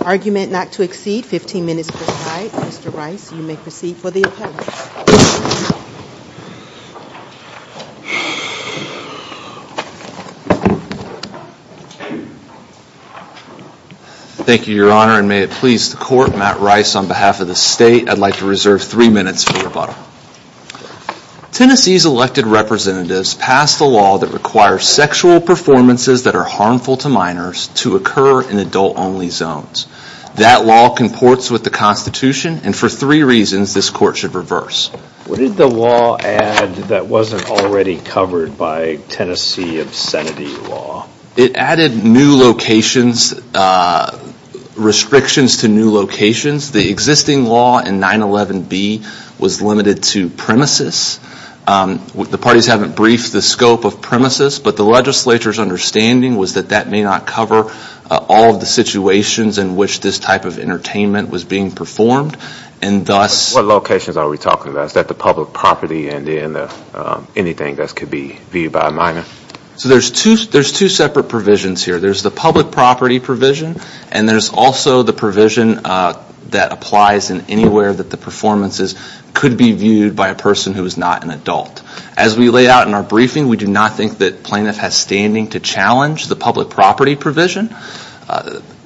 Argument not to exceed 15 minutes per side. Mr. Rice, you may proceed for the appellate. Thank you, Your Honor, and may it please the Court, Matt Rice on behalf of the State, I'd like to reserve three minutes for rebuttal. Tennessee's elected representatives passed a law that requires sexual performances that are harmful to minors to occur in adult-only zones. That law comports with the Constitution and for three reasons this Court should reverse. What did the law add that wasn't already covered by Tennessee obscenity law? It added new locations, restrictions to new locations. The existing law in 911B was limited to premises. The parties haven't briefed the scope of premises, but the legislature's understanding was that that may not cover all of the situations in which this type of entertainment was being performed. What locations are we talking about? Is that the public property and anything that could be viewed by a minor? So there's two separate provisions here. There's the public property provision and there's also the provision that applies in anywhere that the performances could be viewed by a person who is not an adult. As we lay out in our briefing, we do not think that plaintiff has standing to challenge the public property provision.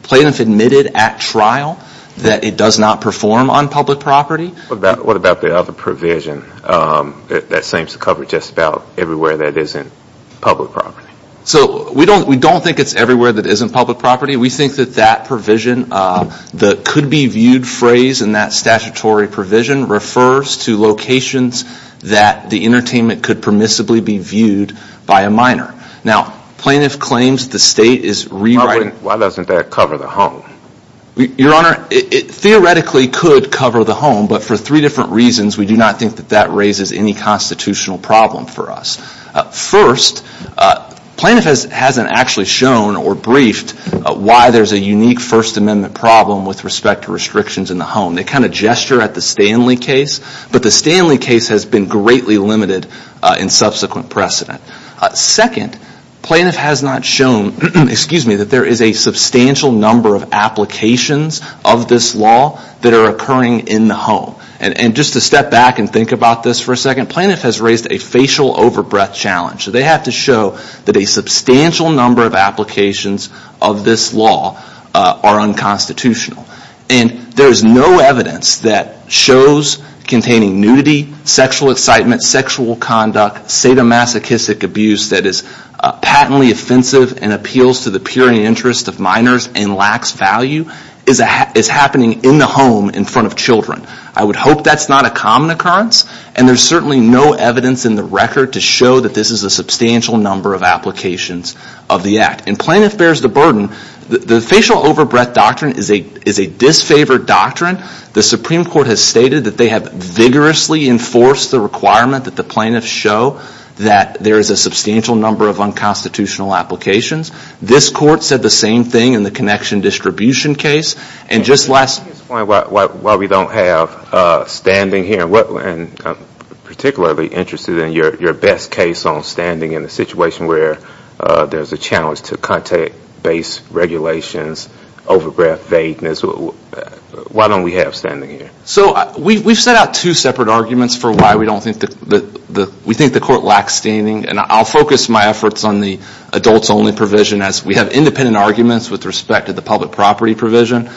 Plaintiff admitted at trial that it does not perform on public property. What about the other provision that seems to cover just about everywhere that isn't public property? So we don't think it's everywhere that isn't public property. We think that that provision, the could-be-viewed phrase in that statutory provision refers to locations that the entertainment could permissibly be viewed by a minor. Now plaintiff claims the state is rewriting... Why doesn't that cover the home? Your Honor, it theoretically could cover the home, but for three different reasons we do not think that that raises any constitutional problem for us. First, plaintiff hasn't actually shown or briefed why there's a unique First Amendment problem with respect to restrictions in the home. They kind of gesture at the Stanley case, but the Stanley case has been greatly limited in subsequent precedent. Second, plaintiff has not shown that there is a substantial number of applications of this law that are occurring in the home. And just to step back and think about this for a second, plaintiff has raised a facial over-breath challenge. They have to show that a substantial number of applications of this law are unconstitutional. And there is no evidence that shows containing nudity, sexual excitement, sexual conduct, sadomasochistic abuse that is patently offensive and appeals to the pure interest of minors and lacks value is happening in the home in front of children. I would hope that's not a common occurrence, and there's certainly no evidence in the record to show that this is a substantial number of applications of the act. And plaintiff bears the burden. The facial over-breath doctrine is a disfavored doctrine. The Supreme Court has stated that they have vigorously enforced the requirement that the plaintiffs show that there is a substantial number of unconstitutional applications. This court said the same thing in the connection distribution case. Can you explain why we don't have standing here? I'm particularly interested in your best case on standing in a situation where there's a challenge to contact-based regulations, over-breath vagueness. Why don't we have standing here? We've set out two separate arguments for why we think the court lacks standing. And I'll focus my efforts on the adults-only provision as we have independent arguments with respect to the public property provision.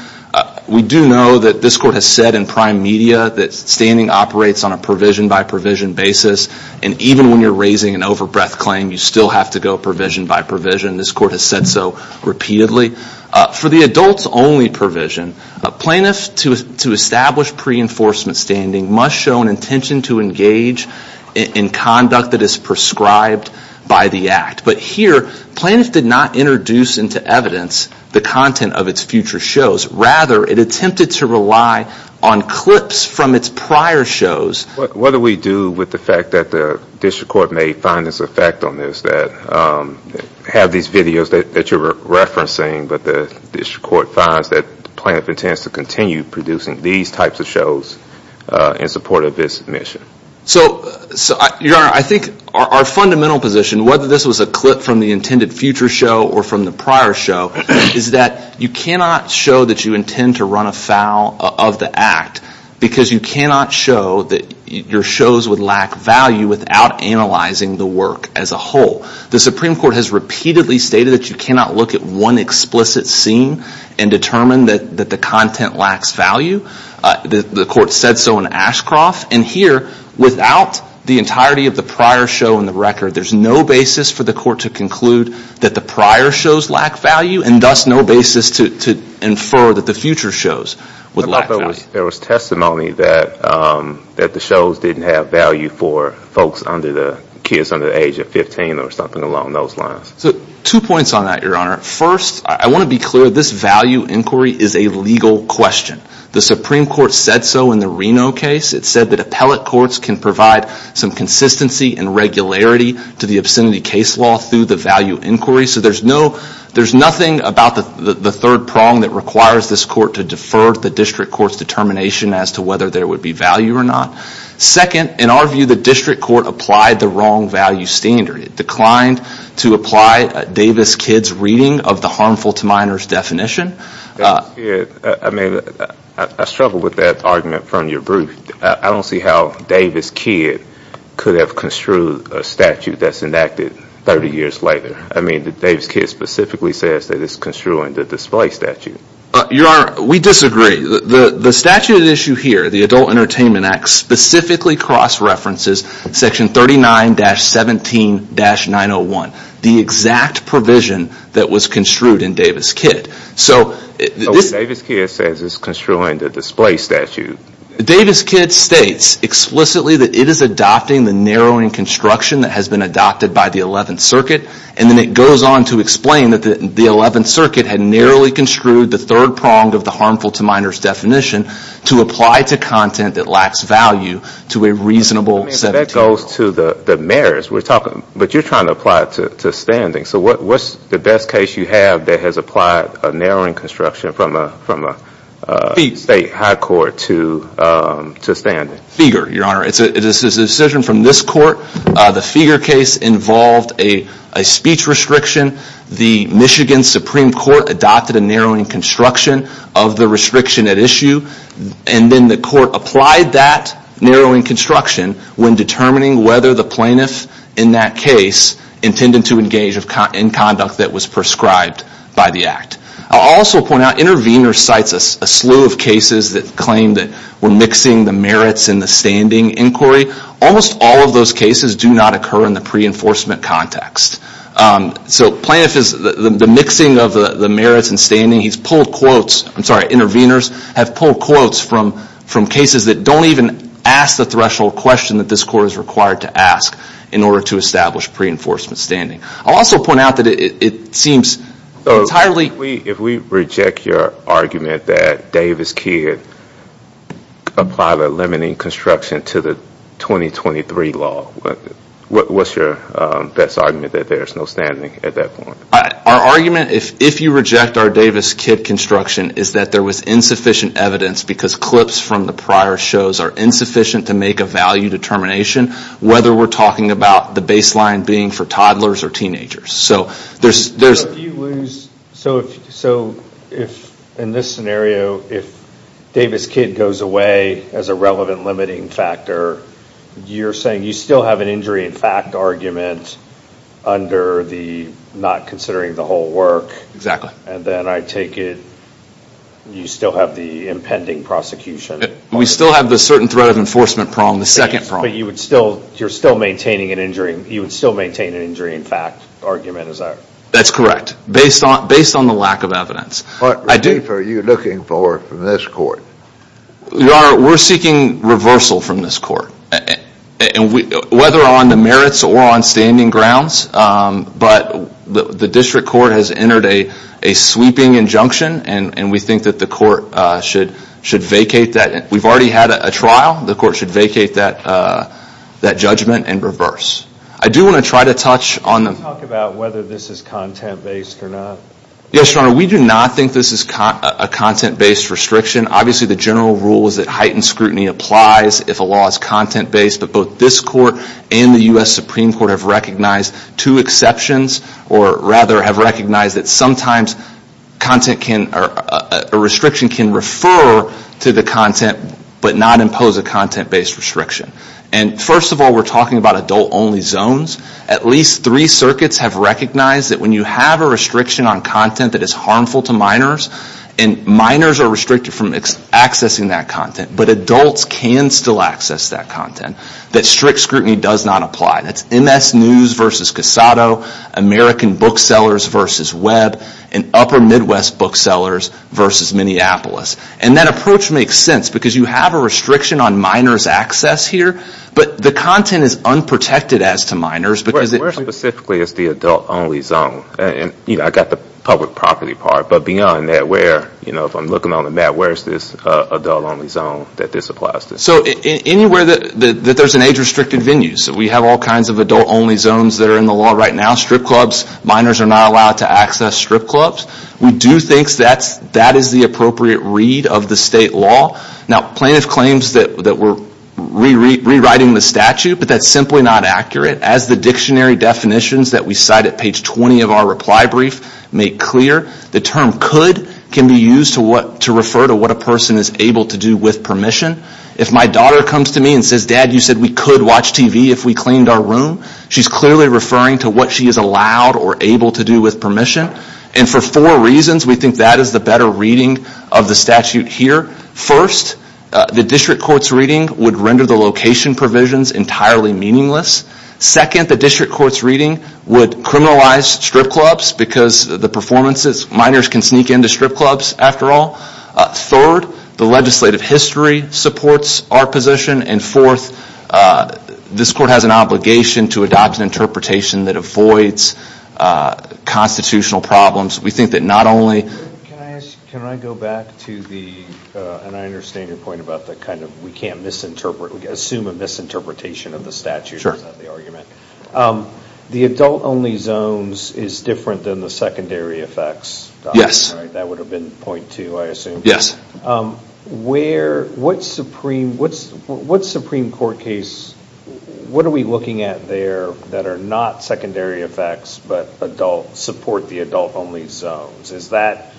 We do know that this court has said in prime media that standing operates on a provision-by-provision basis. And even when you're raising an over-breath claim, you still have to go provision-by-provision. This court has said so repeatedly. For the adults-only provision, a plaintiff, to establish pre-enforcement standing, must show an intention to engage in conduct that is prescribed by the act. But here, plaintiffs did not introduce into evidence the content of its future shows. Rather, it attempted to rely on clips from its prior shows. What do we do with the fact that the district court may find this effect on this, that we have these videos that you're referencing, but the district court finds that the plaintiff intends to continue producing these types of shows in support of this mission? So, Your Honor, I think our fundamental position, whether this was a clip from the intended future show or from the prior show, is that you cannot show that you intend to run afoul of the act, because you cannot show that your shows would lack value without analyzing the work as a whole. The Supreme Court has repeatedly stated that you cannot look at one explicit scene and determine that the content lacks value. The court said so in Ashcroft. And here, without the entirety of the prior show in the record, there's no basis for the court to conclude that the prior shows lack value, and thus no basis to infer that the future shows would lack value. There was testimony that the shows didn't have value for folks under the age of 15 or something along those lines. Two points on that, Your Honor. First, I want to be clear, this value inquiry is a legal question. The Supreme Court said so in the Reno case. It said that appellate courts can provide some consistency and regularity to the obscenity case law through the value inquiry. So there's nothing about the third prong that requires this court to defer the district court's determination as to whether there would be value or not. Second, in our view, the district court applied the wrong value standard. It declined to apply Davis-Kidd's reading of the harmful to minors definition. I mean, I struggle with that argument from your brief. I don't see how Davis-Kidd could have construed a statute that's enacted 30 years later. I mean, Davis-Kidd specifically says that it's construing the display statute. Your Honor, we disagree. The statute at issue here, the Adult Entertainment Act, specifically cross-references section 39-17-901, the exact provision that was construed in Davis-Kidd. Davis-Kidd says it's construing the display statute. Davis-Kidd states explicitly that it is adopting the narrowing construction that has been adopted by the 11th Circuit. And then it goes on to explain that the 11th Circuit had narrowly construed the third prong of the harmful to minors definition to apply to content that lacks value to a reasonable 17 years. That goes to the merits. But you're trying to apply it to standing. So what's the best case you have that has applied a narrowing construction from a state high court to standing? Feger, Your Honor. It's a decision from this court. The Feger case involved a speech restriction. The Michigan Supreme Court adopted a narrowing construction of the restriction at issue. And then the court applied that narrowing construction when determining whether the plaintiff in that case intended to engage in conduct that was prescribed by the act. I'll also point out, Intervenor cites a slew of cases that claim that we're mixing the merits and the standing inquiry. Almost all of those cases do not occur in the pre-enforcement context. So plaintiff is, the mixing of the merits and standing, he's pulled quotes, I'm sorry, Intervenors have pulled quotes from cases that don't even ask the threshold question that this court is required to ask in order to establish pre-enforcement standing. I'll also point out that it seems entirely... If we reject your argument that Davis-Kidd applied a limiting construction to the 2023 law, what's your best argument that there's no standing at that point? Our argument, if you reject our Davis-Kidd construction, is that there was insufficient evidence because clips from the prior shows are insufficient to make a value determination whether we're talking about the baseline being for toddlers or teenagers. So if, in this scenario, if Davis-Kidd goes away as a relevant limiting factor, you're saying you still have an injury in fact argument under the not considering the whole work. Exactly. And then I take it you still have the impending prosecution. We still have the certain threat of enforcement prong, the second prong. But you're still maintaining an injury in fact argument, is that right? That's correct, based on the lack of evidence. What relief are you looking for from this court? Your Honor, we're seeking reversal from this court. Whether on the merits or on standing grounds, but the district court has entered a sweeping injunction and we think that the court should vacate that. We've already had a trial, the court should vacate that judgment and reverse. I do want to try to touch on the... Can you talk about whether this is content-based or not? Yes, Your Honor, we do not think this is a content-based restriction. Obviously the general rule is that heightened scrutiny applies if a law is content-based, but both this court and the U.S. Supreme Court have recognized two exceptions, or rather have recognized that sometimes a restriction can refer to the content, but not impose a content-based restriction. First of all, we're talking about adult-only zones. At least three circuits have recognized that when you have a restriction on content that is harmful to minors, and minors are restricted from accessing that content, but adults can still access that content, that strict scrutiny does not apply. That's MS News v. Casado, American Booksellers v. Web, and Upper Midwest Booksellers v. Minneapolis. That approach makes sense because you have a restriction on minors' access here, but the content is unprotected as to minors. Where specifically is the adult-only zone? I've got the public property part, but beyond that, if I'm looking on the map, where is this adult-only zone that this applies to? Anywhere that there's an age-restricted venue. So we have all kinds of adult-only zones that are in the law right now. Strip clubs, minors are not allowed to access strip clubs. We do think that is the appropriate read of the state law. Now plaintiff claims that we're rewriting the statute, but that's simply not accurate. As the dictionary definitions that we cite at page 20 of our reply brief make clear, the term could can be used to refer to what a person is able to do with permission. If my daughter comes to me and says, Dad, you said we could watch TV if we cleaned our room, she's clearly referring to what she is allowed or able to do with permission. And for four reasons, we think that is the better reading of the statute here. First, the district court's reading would render the location provisions entirely meaningless. Second, the district court's reading would criminalize strip clubs because the performances, minors can sneak into strip clubs after all. Third, the legislative history supports our position. And fourth, this court has an obligation to adopt an interpretation that avoids constitutional problems. We think that not only... Can I go back to the, and I understand your point about the kind of, we can't assume a misinterpretation of the statute, is that the argument? The adult-only zones is different than the secondary effects, right? Yes. That would have been point two, I assume. What Supreme Court case, what are we looking at there that are not secondary effects but support the adult-only zones? Is that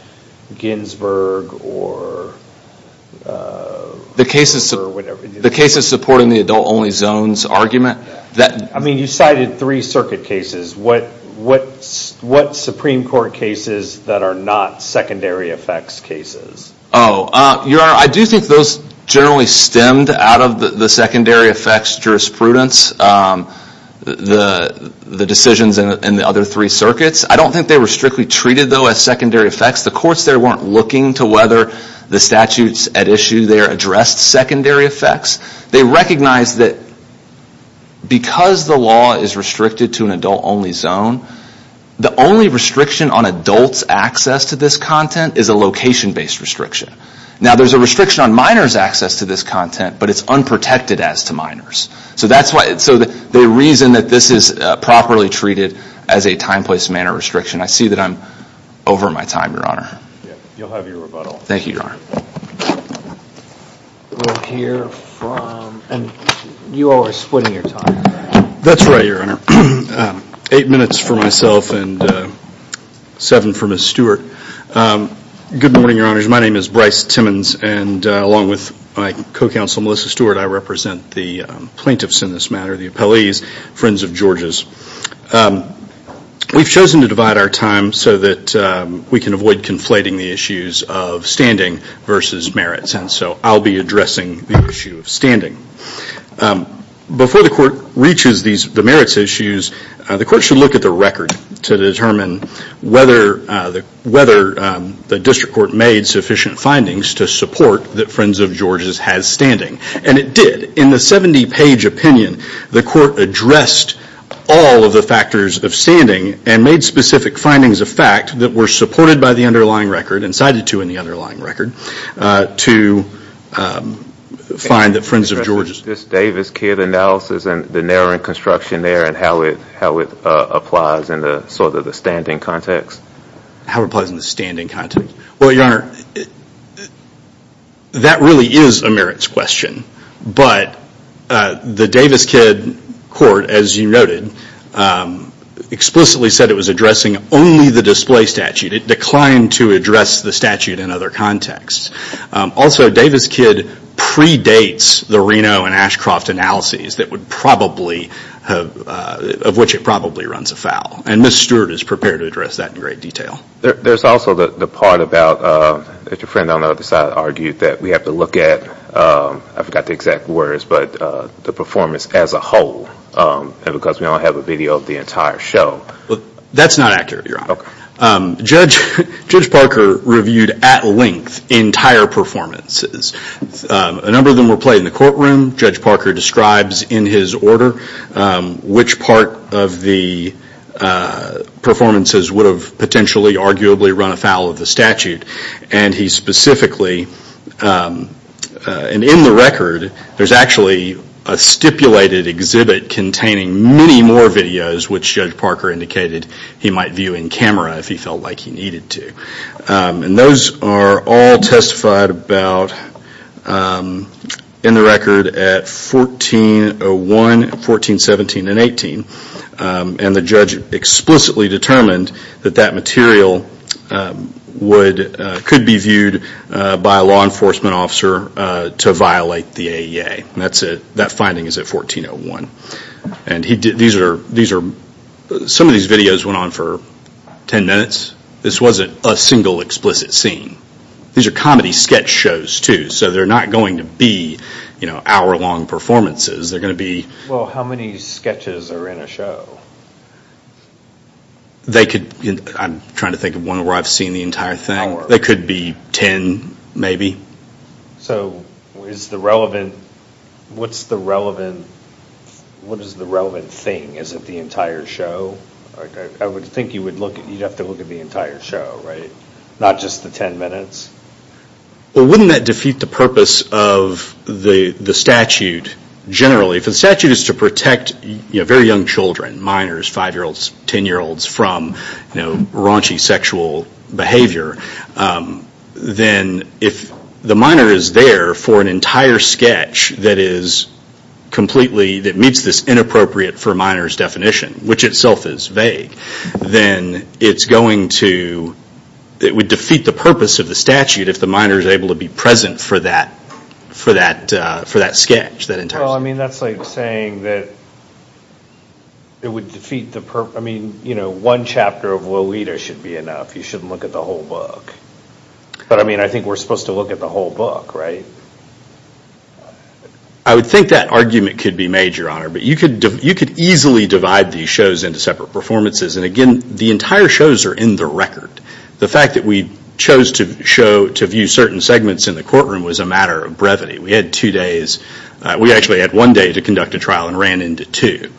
Ginsburg or... The cases supporting the adult-only zones argument? I mean, you cited three circuit cases. What Supreme Court cases that are not secondary effects cases? Your Honor, I do think those generally stemmed out of the secondary effects jurisprudence, the decisions in the other three circuits. I don't think they were strictly treated, though, as secondary effects. The courts there weren't looking to whether the statutes at issue there addressed secondary effects. They recognized that because the law is restricted to an adult-only zone, the only restriction on adults' access to this content is a location-based restriction. Now, there's a restriction on minors' access to this content, but it's unprotected as to minors'. So they reason that this is properly treated as a time, place, manner restriction. I see that I'm over my time, Your Honor. You'll have your rebuttal. Thank you, Your Honor. We'll hear from, and you all are splitting your time. That's right, Your Honor. Eight minutes for myself and seven for Ms. Stewart. Good morning, Your Honors. My name is Bryce Timmons, and along with my co-counsel, Melissa Stewart, I represent the plaintiffs in this matter, the appellees, friends of George's. We've chosen to divide our time so that we can avoid conflating the issues of standing versus merits, and so I'll be addressing the issue of standing. Before the court reaches the merits issues, the court should look at the record to determine whether the district court made sufficient findings to support that friends of George's has standing, and it did. In the 70-page opinion, the court addressed all of the factors of standing and made specific findings of fact that were supported by the underlying record and cited to in the underlying record to find that friends of George's. Is this Davis-Kidd analysis and the narrowing construction there and how it applies in sort of the standing context? How it applies in the standing context? Well, Your Honor, that really is a merits question, but the Davis-Kidd court, as you noted, explicitly said it was addressing only the display statute. It declined to address the statute in other contexts. Also, Davis-Kidd predates the Reno and Ashcroft analyses of which it probably runs afoul, and Ms. Stewart is prepared to address that in great detail. There's also the part about, as your friend on the other side argued, that we have to look at, I forgot the exact words, but the performance as a whole because we don't have a video of the entire show. That's not accurate, Your Honor. Judge Parker reviewed at length entire performances. A number of them were played in the courtroom. Judge Parker describes in his order which part of the performances would have potentially, arguably run afoul of the statute, and he specifically, and in the record, there's actually a stipulated exhibit containing many more videos which Judge Parker indicated he might view in camera if he felt like he needed to. Those are all testified about in the record at 1401, 1417, and 1418. The judge explicitly determined that that material could be viewed by a law enforcement officer to violate the AEA. That finding is at 1401. Some of these videos went on for 10 minutes. This wasn't a single explicit scene. These are comedy sketch shows, too, so they're not going to be hour-long performances. They're going to be... Well, how many sketches are in a show? I'm trying to think of one where I've seen the entire thing. They could be 10, maybe. So what is the relevant thing? Is it the entire show? I would think you'd have to look at the entire show, right? Not just the 10 minutes. Well, wouldn't that defeat the purpose of the statute generally? If the statute is to protect very young children, minors, 5-year-olds, 10-year-olds, from raunchy sexual behavior, then if the minor is there for an entire sketch that meets this inappropriate-for-minors definition, which itself is vague, then it would defeat the purpose of the statute if the minor is able to be present for that sketch. That's like saying that it would defeat the purpose... One chapter of Lolita should be enough. You shouldn't look at the whole book. But, I mean, I think we're supposed to look at the whole book, right? I would think that argument could be made, Your Honor. But you could easily divide these shows into separate performances. And, again, the entire shows are in the record. The fact that we chose to view certain segments in the courtroom was a matter of brevity. We had two days. We actually had one day to conduct a trial and ran into two.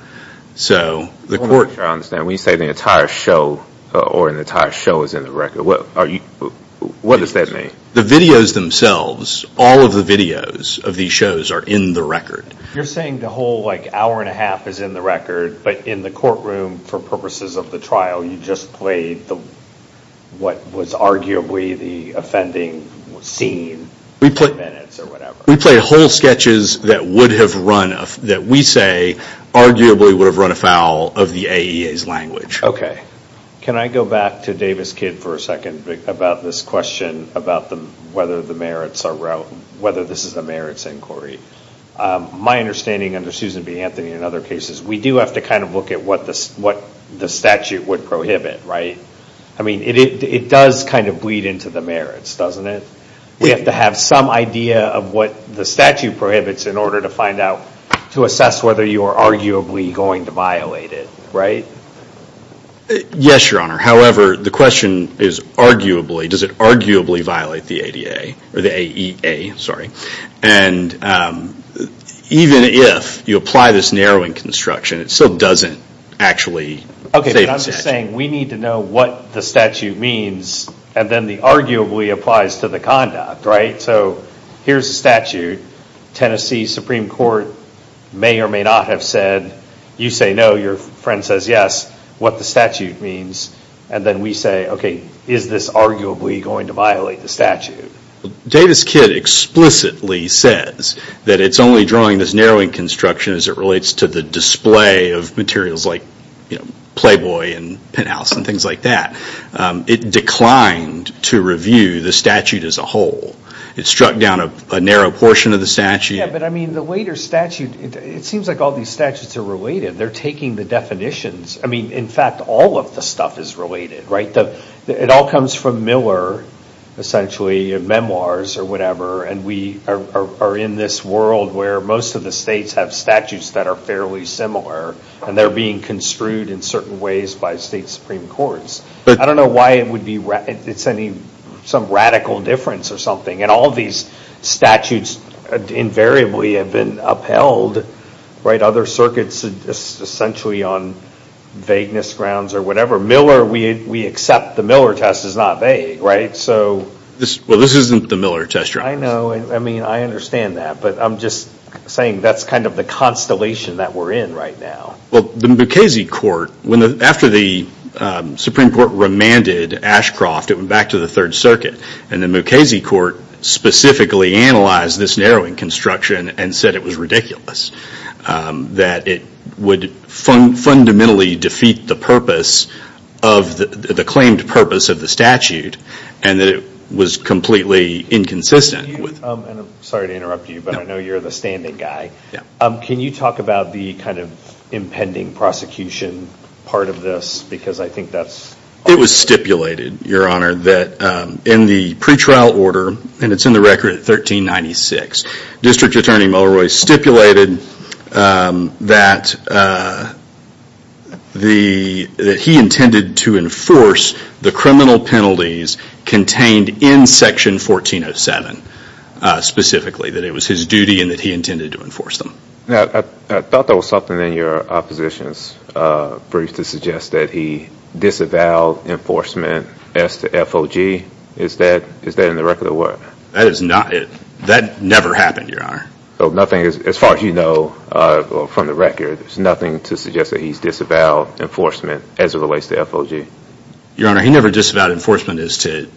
I don't understand. When you say the entire show is in the record, what does that mean? The videos themselves, all of the videos of these shows are in the record. You're saying the whole hour and a half is in the record, but in the courtroom, for purposes of the trial, you just played what was arguably the offending scene for minutes or whatever. We played whole sketches that we say arguably would have run afoul of the AEA's language. Okay. Can I go back to Davis Kidd for a second about this question about whether this is a merits inquiry? My understanding, under Susan B. Anthony and other cases, we do have to kind of look at what the statute would prohibit, right? I mean, it does kind of bleed into the merits, doesn't it? We have to have some idea of what the statute prohibits in order to find out, to assess whether you are arguably going to violate it, right? Yes, Your Honor. However, the question is, does it arguably violate the AEA? Even if you apply this narrowing construction, it still doesn't actually save a statute. Okay, but I'm just saying we need to know what the statute means and then the arguably applies to the conduct, right? So here's a statute. Tennessee Supreme Court may or may not have said, you say no, your friend says yes, what the statute means, and then we say, okay, is this arguably going to violate the statute? Davis Kidd explicitly says that it's only drawing this narrowing construction as it relates to the display of materials like Playboy and Penthouse and things like that. It declined to review the statute as a whole. It struck down a narrow portion of the statute. Yes, but I mean, the later statute, it seems like all these statutes are related. They're taking the definitions. I mean, in fact, all of the stuff is related, right? It all comes from Miller, essentially, memoirs or whatever, and we are in this world where most of the states have statutes that are fairly similar and they're being construed in certain ways by state supreme courts. I don't know why it's some radical difference or something, and all these statutes invariably have been upheld, right? Other circuits are essentially on vagueness grounds or whatever. Miller, we accept the Miller test is not vague, right? Well, this isn't the Miller test. I know. I mean, I understand that, but I'm just saying that's kind of the constellation that we're in right now. Well, the Mukasey Court, after the Supreme Court remanded Ashcroft, it went back to the Third Circuit, and the Mukasey Court specifically analyzed this narrowing construction and said it was ridiculous, that it would fundamentally defeat the purpose of the claimed purpose of the statute and that it was completely inconsistent. I'm sorry to interrupt you, but I know you're the standing guy. Yeah. Can you talk about the kind of impending prosecution part of this? Because I think that's... It was stipulated, Your Honor, that in the pretrial order, and it's in the record at 1396, District Attorney Mulroy stipulated that he intended to enforce the criminal penalties contained in Section 1407 specifically, that it was his duty and that he intended to enforce them. Now, I thought there was something in your opposition's brief to suggest that he disavowed enforcement as to FOG. Is that in the record or what? That is not it. That never happened, Your Honor. So nothing, as far as you know from the record, there's nothing to suggest that he's disavowed enforcement as it relates to FOG? Your Honor, he never disavowed enforcement as to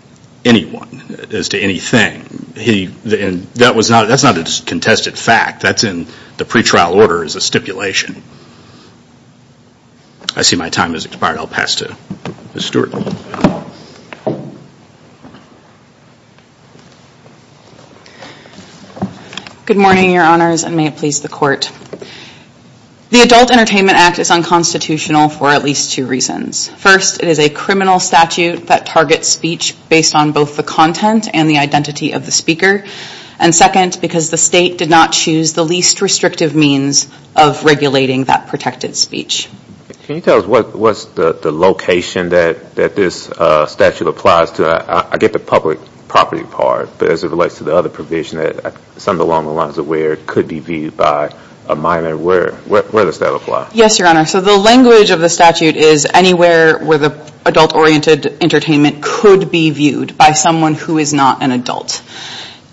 anyone, as to anything. That's not a contested fact. That's in the pretrial order as a stipulation. I see my time has expired. I'll pass to Ms. Stewart. Good morning, Your Honors, and may it please the Court. The Adult Entertainment Act is unconstitutional for at least two reasons. First, it is a criminal statute that targets speech based on both the content and the identity of the speaker. And second, because the state did not choose the least restrictive means of regulating that protected speech. Can you tell us what's the location that this statute applies to? I get the public property part, but as it relates to the other provision that some of the law and the law is aware could be viewed by a minor, where does that apply? Yes, Your Honor. So the language of the statute is anywhere where the adult-oriented entertainment could be viewed by someone who is not an adult.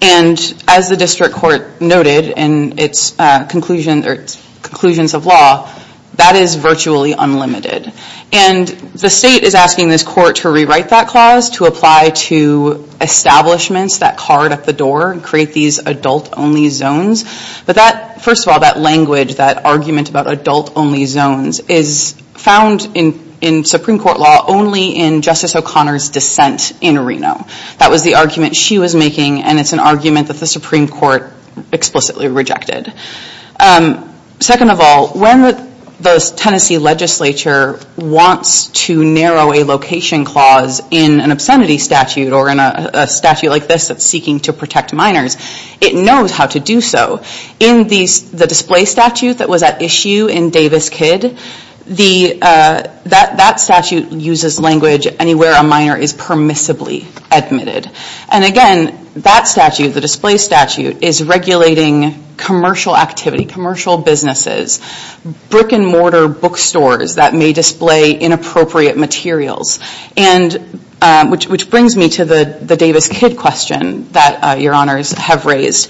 And as the district court noted in its conclusions of law, that is virtually unlimited. And the state is asking this court to rewrite that clause to apply to establishments that card at the door and create these adult-only zones. But that, first of all, that language, that argument about adult-only zones is found in Supreme Court law only in Justice O'Connor's dissent in Reno. That was the argument she was making, and it's an argument that the Supreme Court explicitly rejected. Second of all, when the Tennessee legislature wants to narrow a location clause in an obscenity statute or in a statute like this that's seeking to protect minors, it knows how to do so. In the display statute that was at issue in Davis-Kidd, that statute uses language anywhere a minor is permissibly admitted. And again, that statute, the display statute, is regulating commercial activity, commercial businesses, brick-and-mortar bookstores that may display inappropriate materials, which brings me to the Davis-Kidd question that Your Honors have raised.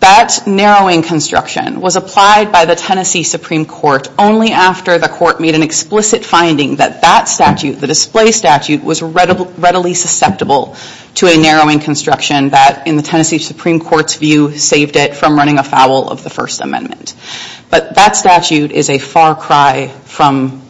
That narrowing construction was applied by the Tennessee Supreme Court only after the court made an explicit finding that that statute, the display statute, was readily susceptible to a narrowing construction that, in the Tennessee Supreme Court's view, saved it from running afoul of the First Amendment. But that statute is a far cry from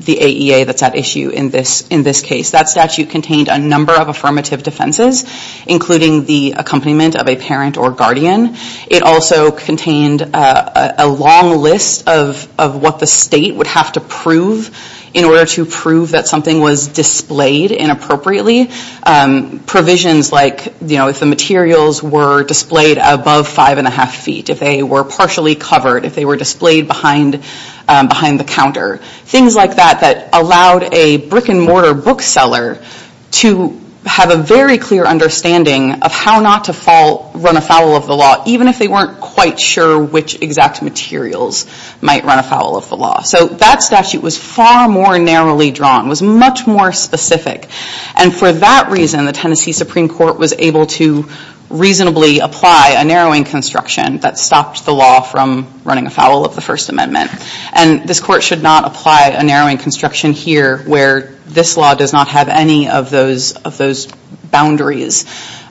the AEA that's at issue in this case. That statute contained a number of affirmative defenses, including the accompaniment of a parent or guardian. It also contained a long list of what the state would have to prove in order to prove that something was displayed inappropriately. Provisions like if the materials were displayed above five and a half feet, if they were partially covered, if they were displayed behind the counter, things like that that allowed a brick-and-mortar bookseller to have a very clear understanding of how not to run afoul of the law, even if they weren't quite sure which exact materials might run afoul of the law. So that statute was far more narrowly drawn, was much more specific. And for that reason, the Tennessee Supreme Court was able to reasonably apply a narrowing construction that stopped the law from running afoul of the First Amendment. And this court should not apply a narrowing construction here where this law does not have any of those boundaries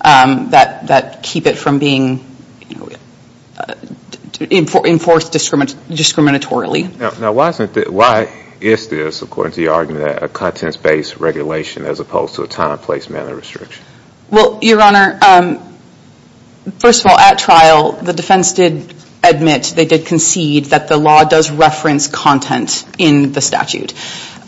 that keep it from being enforced discriminatorily. Now, why is this, according to your argument, a contents-based regulation as opposed to a time, place, manner restriction? Well, Your Honor, first of all, at trial the defense did admit, they did concede, that the law does reference content in the statute.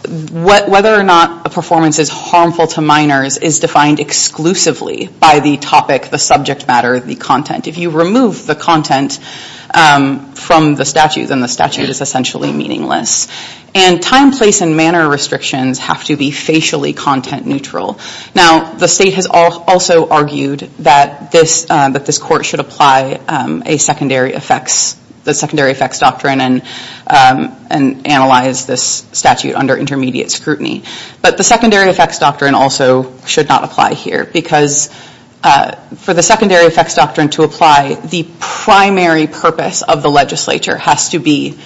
Whether or not a performance is harmful to minors is defined exclusively by the topic, the subject matter, the content. If you remove the content from the statute, then the statute is essentially meaningless. And time, place, and manner restrictions have to be facially content-neutral. Now, the state has also argued that this court should apply a secondary effects, the secondary effects doctrine, and analyze this statute under intermediate scrutiny. But the secondary effects doctrine also should not apply here because for the secondary effects doctrine to apply, the primary purpose of the legislature has to be,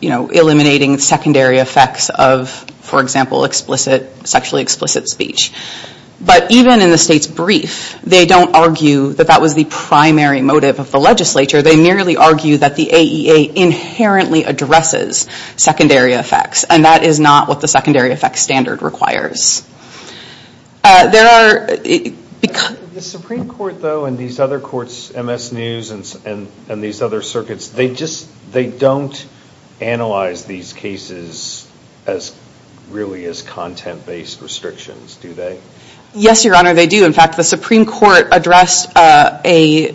you know, eliminating secondary effects of, for example, explicit, sexually explicit speech. But even in the state's brief, they don't argue that that was the primary motive of the legislature. They merely argue that the AEA inherently addresses secondary effects. And that is not what the secondary effects standard requires. There are... The Supreme Court, though, and these other courts, MS News, and these other circuits, they just, they don't analyze these cases really as content-based restrictions, do they? Yes, Your Honor, they do. In fact, the Supreme Court addressed a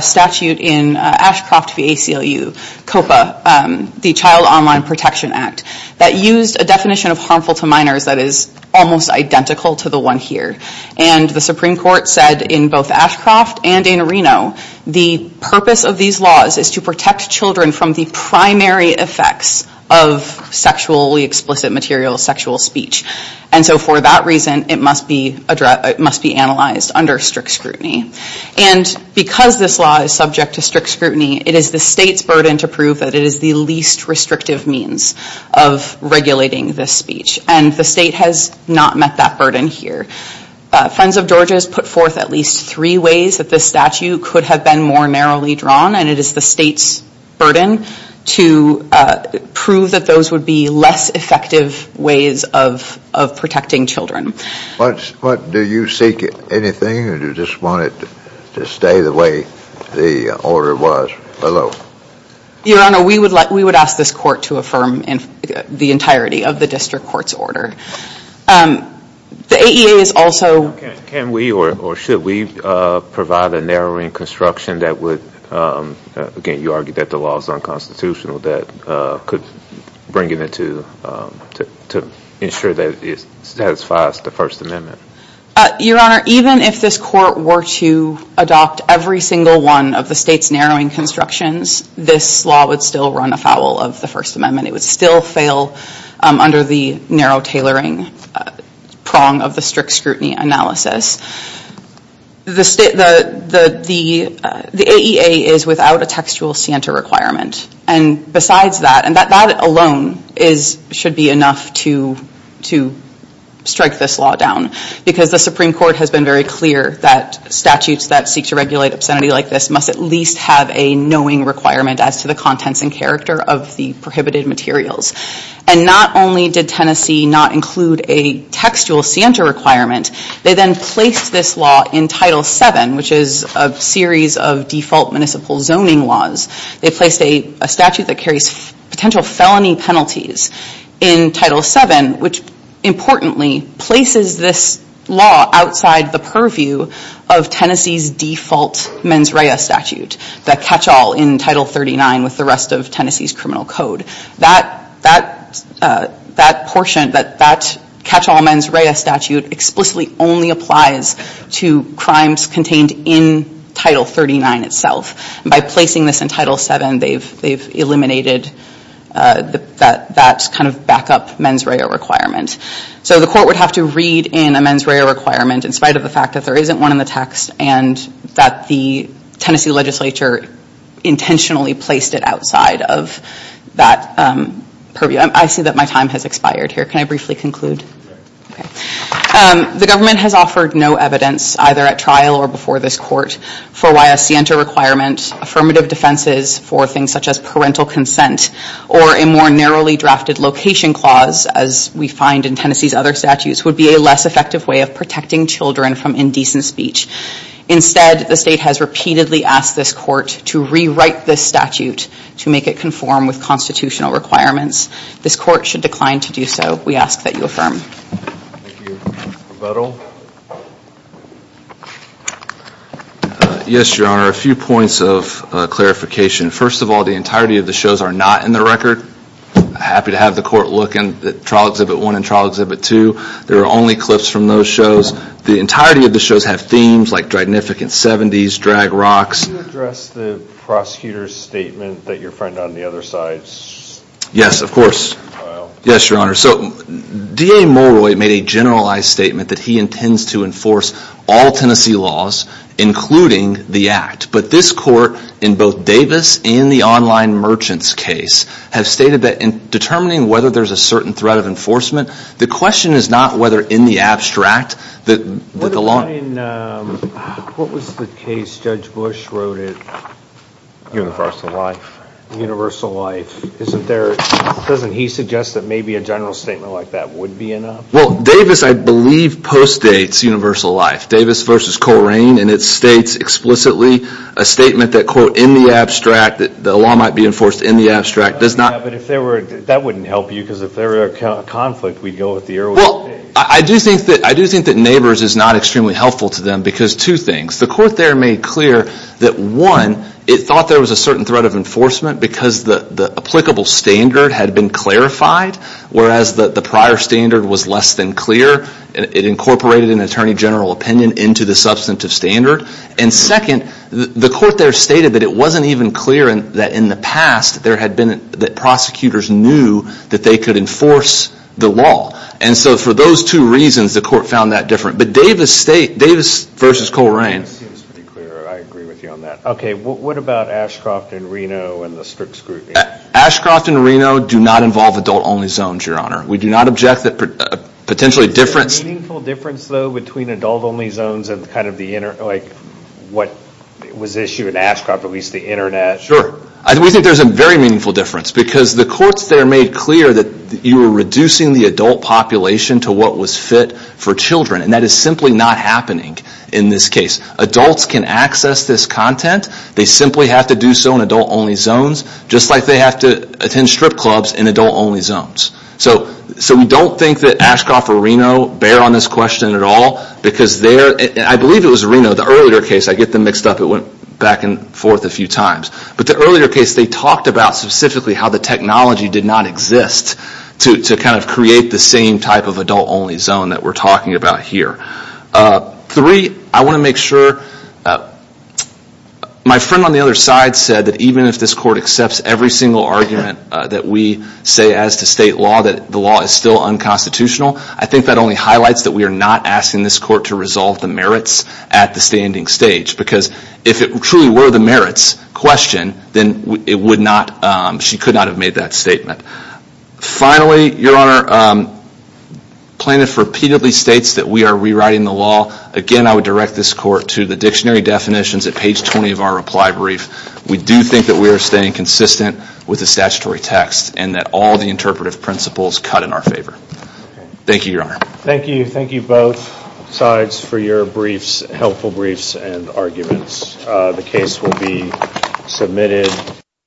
statute in Ashcroft v. ACLU, COPA, the Child Online Protection Act, that used a definition of harmful to minors that is almost identical to the one here. And the Supreme Court said in both Ashcroft and in Reno, the purpose of these laws is to protect children from the primary effects of sexually explicit material, sexual speech. And so for that reason, it must be analyzed under strict scrutiny. And because this law is subject to strict scrutiny, it is the state's burden to prove that it is the least restrictive means of regulating this speech. And the state has not met that burden here. Friends of Georgia has put forth at least three ways that this statute could have been more narrowly drawn, and it is the state's burden to prove that those would be less effective ways of protecting children. Do you seek anything, or do you just want it to stay the way the order was below? Your Honor, we would ask this court to affirm the entirety of the district court's order. The AEA is also... Can we or should we provide a narrowing construction that would, again, you argued that the law is unconstitutional, that could bring it into, to ensure that it satisfies the First Amendment. Your Honor, even if this court were to adopt every single one of the state's narrowing constructions, this law would still run afoul of the First Amendment. It would still fail under the narrow tailoring prong of the strict scrutiny analysis. The AEA is without a textual scienter requirement. And besides that, and that alone should be enough to strike this law down, because the Supreme Court has been very clear that statutes that seek to regulate obscenity like this must at least have a knowing requirement as to the contents and character of the prohibited materials. And not only did Tennessee not include a textual scienter requirement, they then placed this law in Title VII, which is a series of default municipal zoning laws. They placed a statute that carries potential felony penalties in Title VII, which importantly places this law outside the purview of Tennessee's default mens rea statute, that catch-all in Title XXXIX with the rest of Tennessee's criminal code. That portion, that catch-all mens rea statute explicitly only applies to crimes contained in Title XXXIX itself. And by placing this in Title VII, they've eliminated that kind of backup mens rea requirement. So the court would have to read in a mens rea requirement, in spite of the fact that there isn't one in the text, and that the Tennessee legislature intentionally placed it outside of that purview. I see that my time has expired here. Can I briefly conclude? The government has offered no evidence, either at trial or before this court, for why a scienter requirement, affirmative defenses for things such as parental consent, or a more narrowly drafted location clause, as we find in Tennessee's other statutes, would be a less effective way of protecting children from indecent speech. Instead, the state has repeatedly asked this court to rewrite this statute to make it conform with constitutional requirements. This court should decline to do so. We ask that you affirm. Thank you. Mr. Vettel? Yes, Your Honor. A few points of clarification. First of all, the entirety of the shows are not in the record. I'm happy to have the court look at trial exhibit one and trial exhibit two. There are only clips from those shows. The entirety of the shows have themes like dragnificant seventies, drag rocks. Can you address the prosecutor's statement that your friend on the other side filed? Yes, of course. Yes, Your Honor. D.A. Mulroy made a generalized statement that he intends to enforce all Tennessee laws, including the act. But this court, in both Davis and the online merchants case, have stated that in determining whether there's a certain threat of enforcement, the question is not whether in the abstract that the law... What about in... What was the case Judge Bush wrote at... Universal Life. Universal Life. Isn't there... Doesn't he suggest that maybe a general statement like that would be enough? Well, Davis, I believe, postdates Universal Life. Davis v. Corain, and it states explicitly a statement that, quote, in the abstract that the law might be enforced in the abstract does not... But if there were... That wouldn't help you because if there were a conflict, we'd go with the earlier case. Well, I do think that neighbors is not extremely helpful to them because two things. The court there made clear that, one, it thought there was a certain threat of enforcement because the applicable standard had been clarified, whereas the prior standard was less than clear. It incorporated an attorney general opinion into the substantive standard. And second, the court there stated that it wasn't even clear that in the past there had been... That prosecutors knew that they could enforce the law. And so for those two reasons, the court found that different. But Davis state... Davis v. Corain. It seems pretty clear. I agree with you on that. Okay. What about Ashcroft and Reno and the Strix group? Ashcroft and Reno do not involve adult-only zones, Your Honor. We do not object that potentially difference... Is there a meaningful difference, though, between adult-only zones and kind of the... Like what was issued in Ashcroft, at least the Internet? Sure. We think there's a very meaningful difference because the courts there made clear that you were reducing the adult population to what was fit for children. And that is simply not happening in this case. Adults can access this content. They simply have to do so in adult-only zones, just like they have to attend strip clubs in adult-only zones. So we don't think that Ashcroft or Reno bear on this question at all because they're... I believe it was Reno, the earlier case. I get them mixed up. It went back and forth a few times. But the earlier case, they talked about specifically how the technology did not exist to kind of create the same type of adult-only zone that we're talking about here. Three, I want to make sure... My friend on the other side said that even if this court accepts every single argument that we say as to state law, that the law is still unconstitutional, I think that only highlights that we are not asking this court to resolve the merits at the standing stage because if it truly were the merits question, then it would not... She could not have made that statement. Finally, Your Honor, plaintiff repeatedly states that we are rewriting the law. Again, I would direct this court to the dictionary definitions at page 20 of our reply brief. We do think that we are staying consistent with the statutory text and that all the interpretive principles cut in our favor. Thank you, Your Honor. Thank you. Thank you both sides for your briefs, helpful briefs and arguments. The case will be submitted.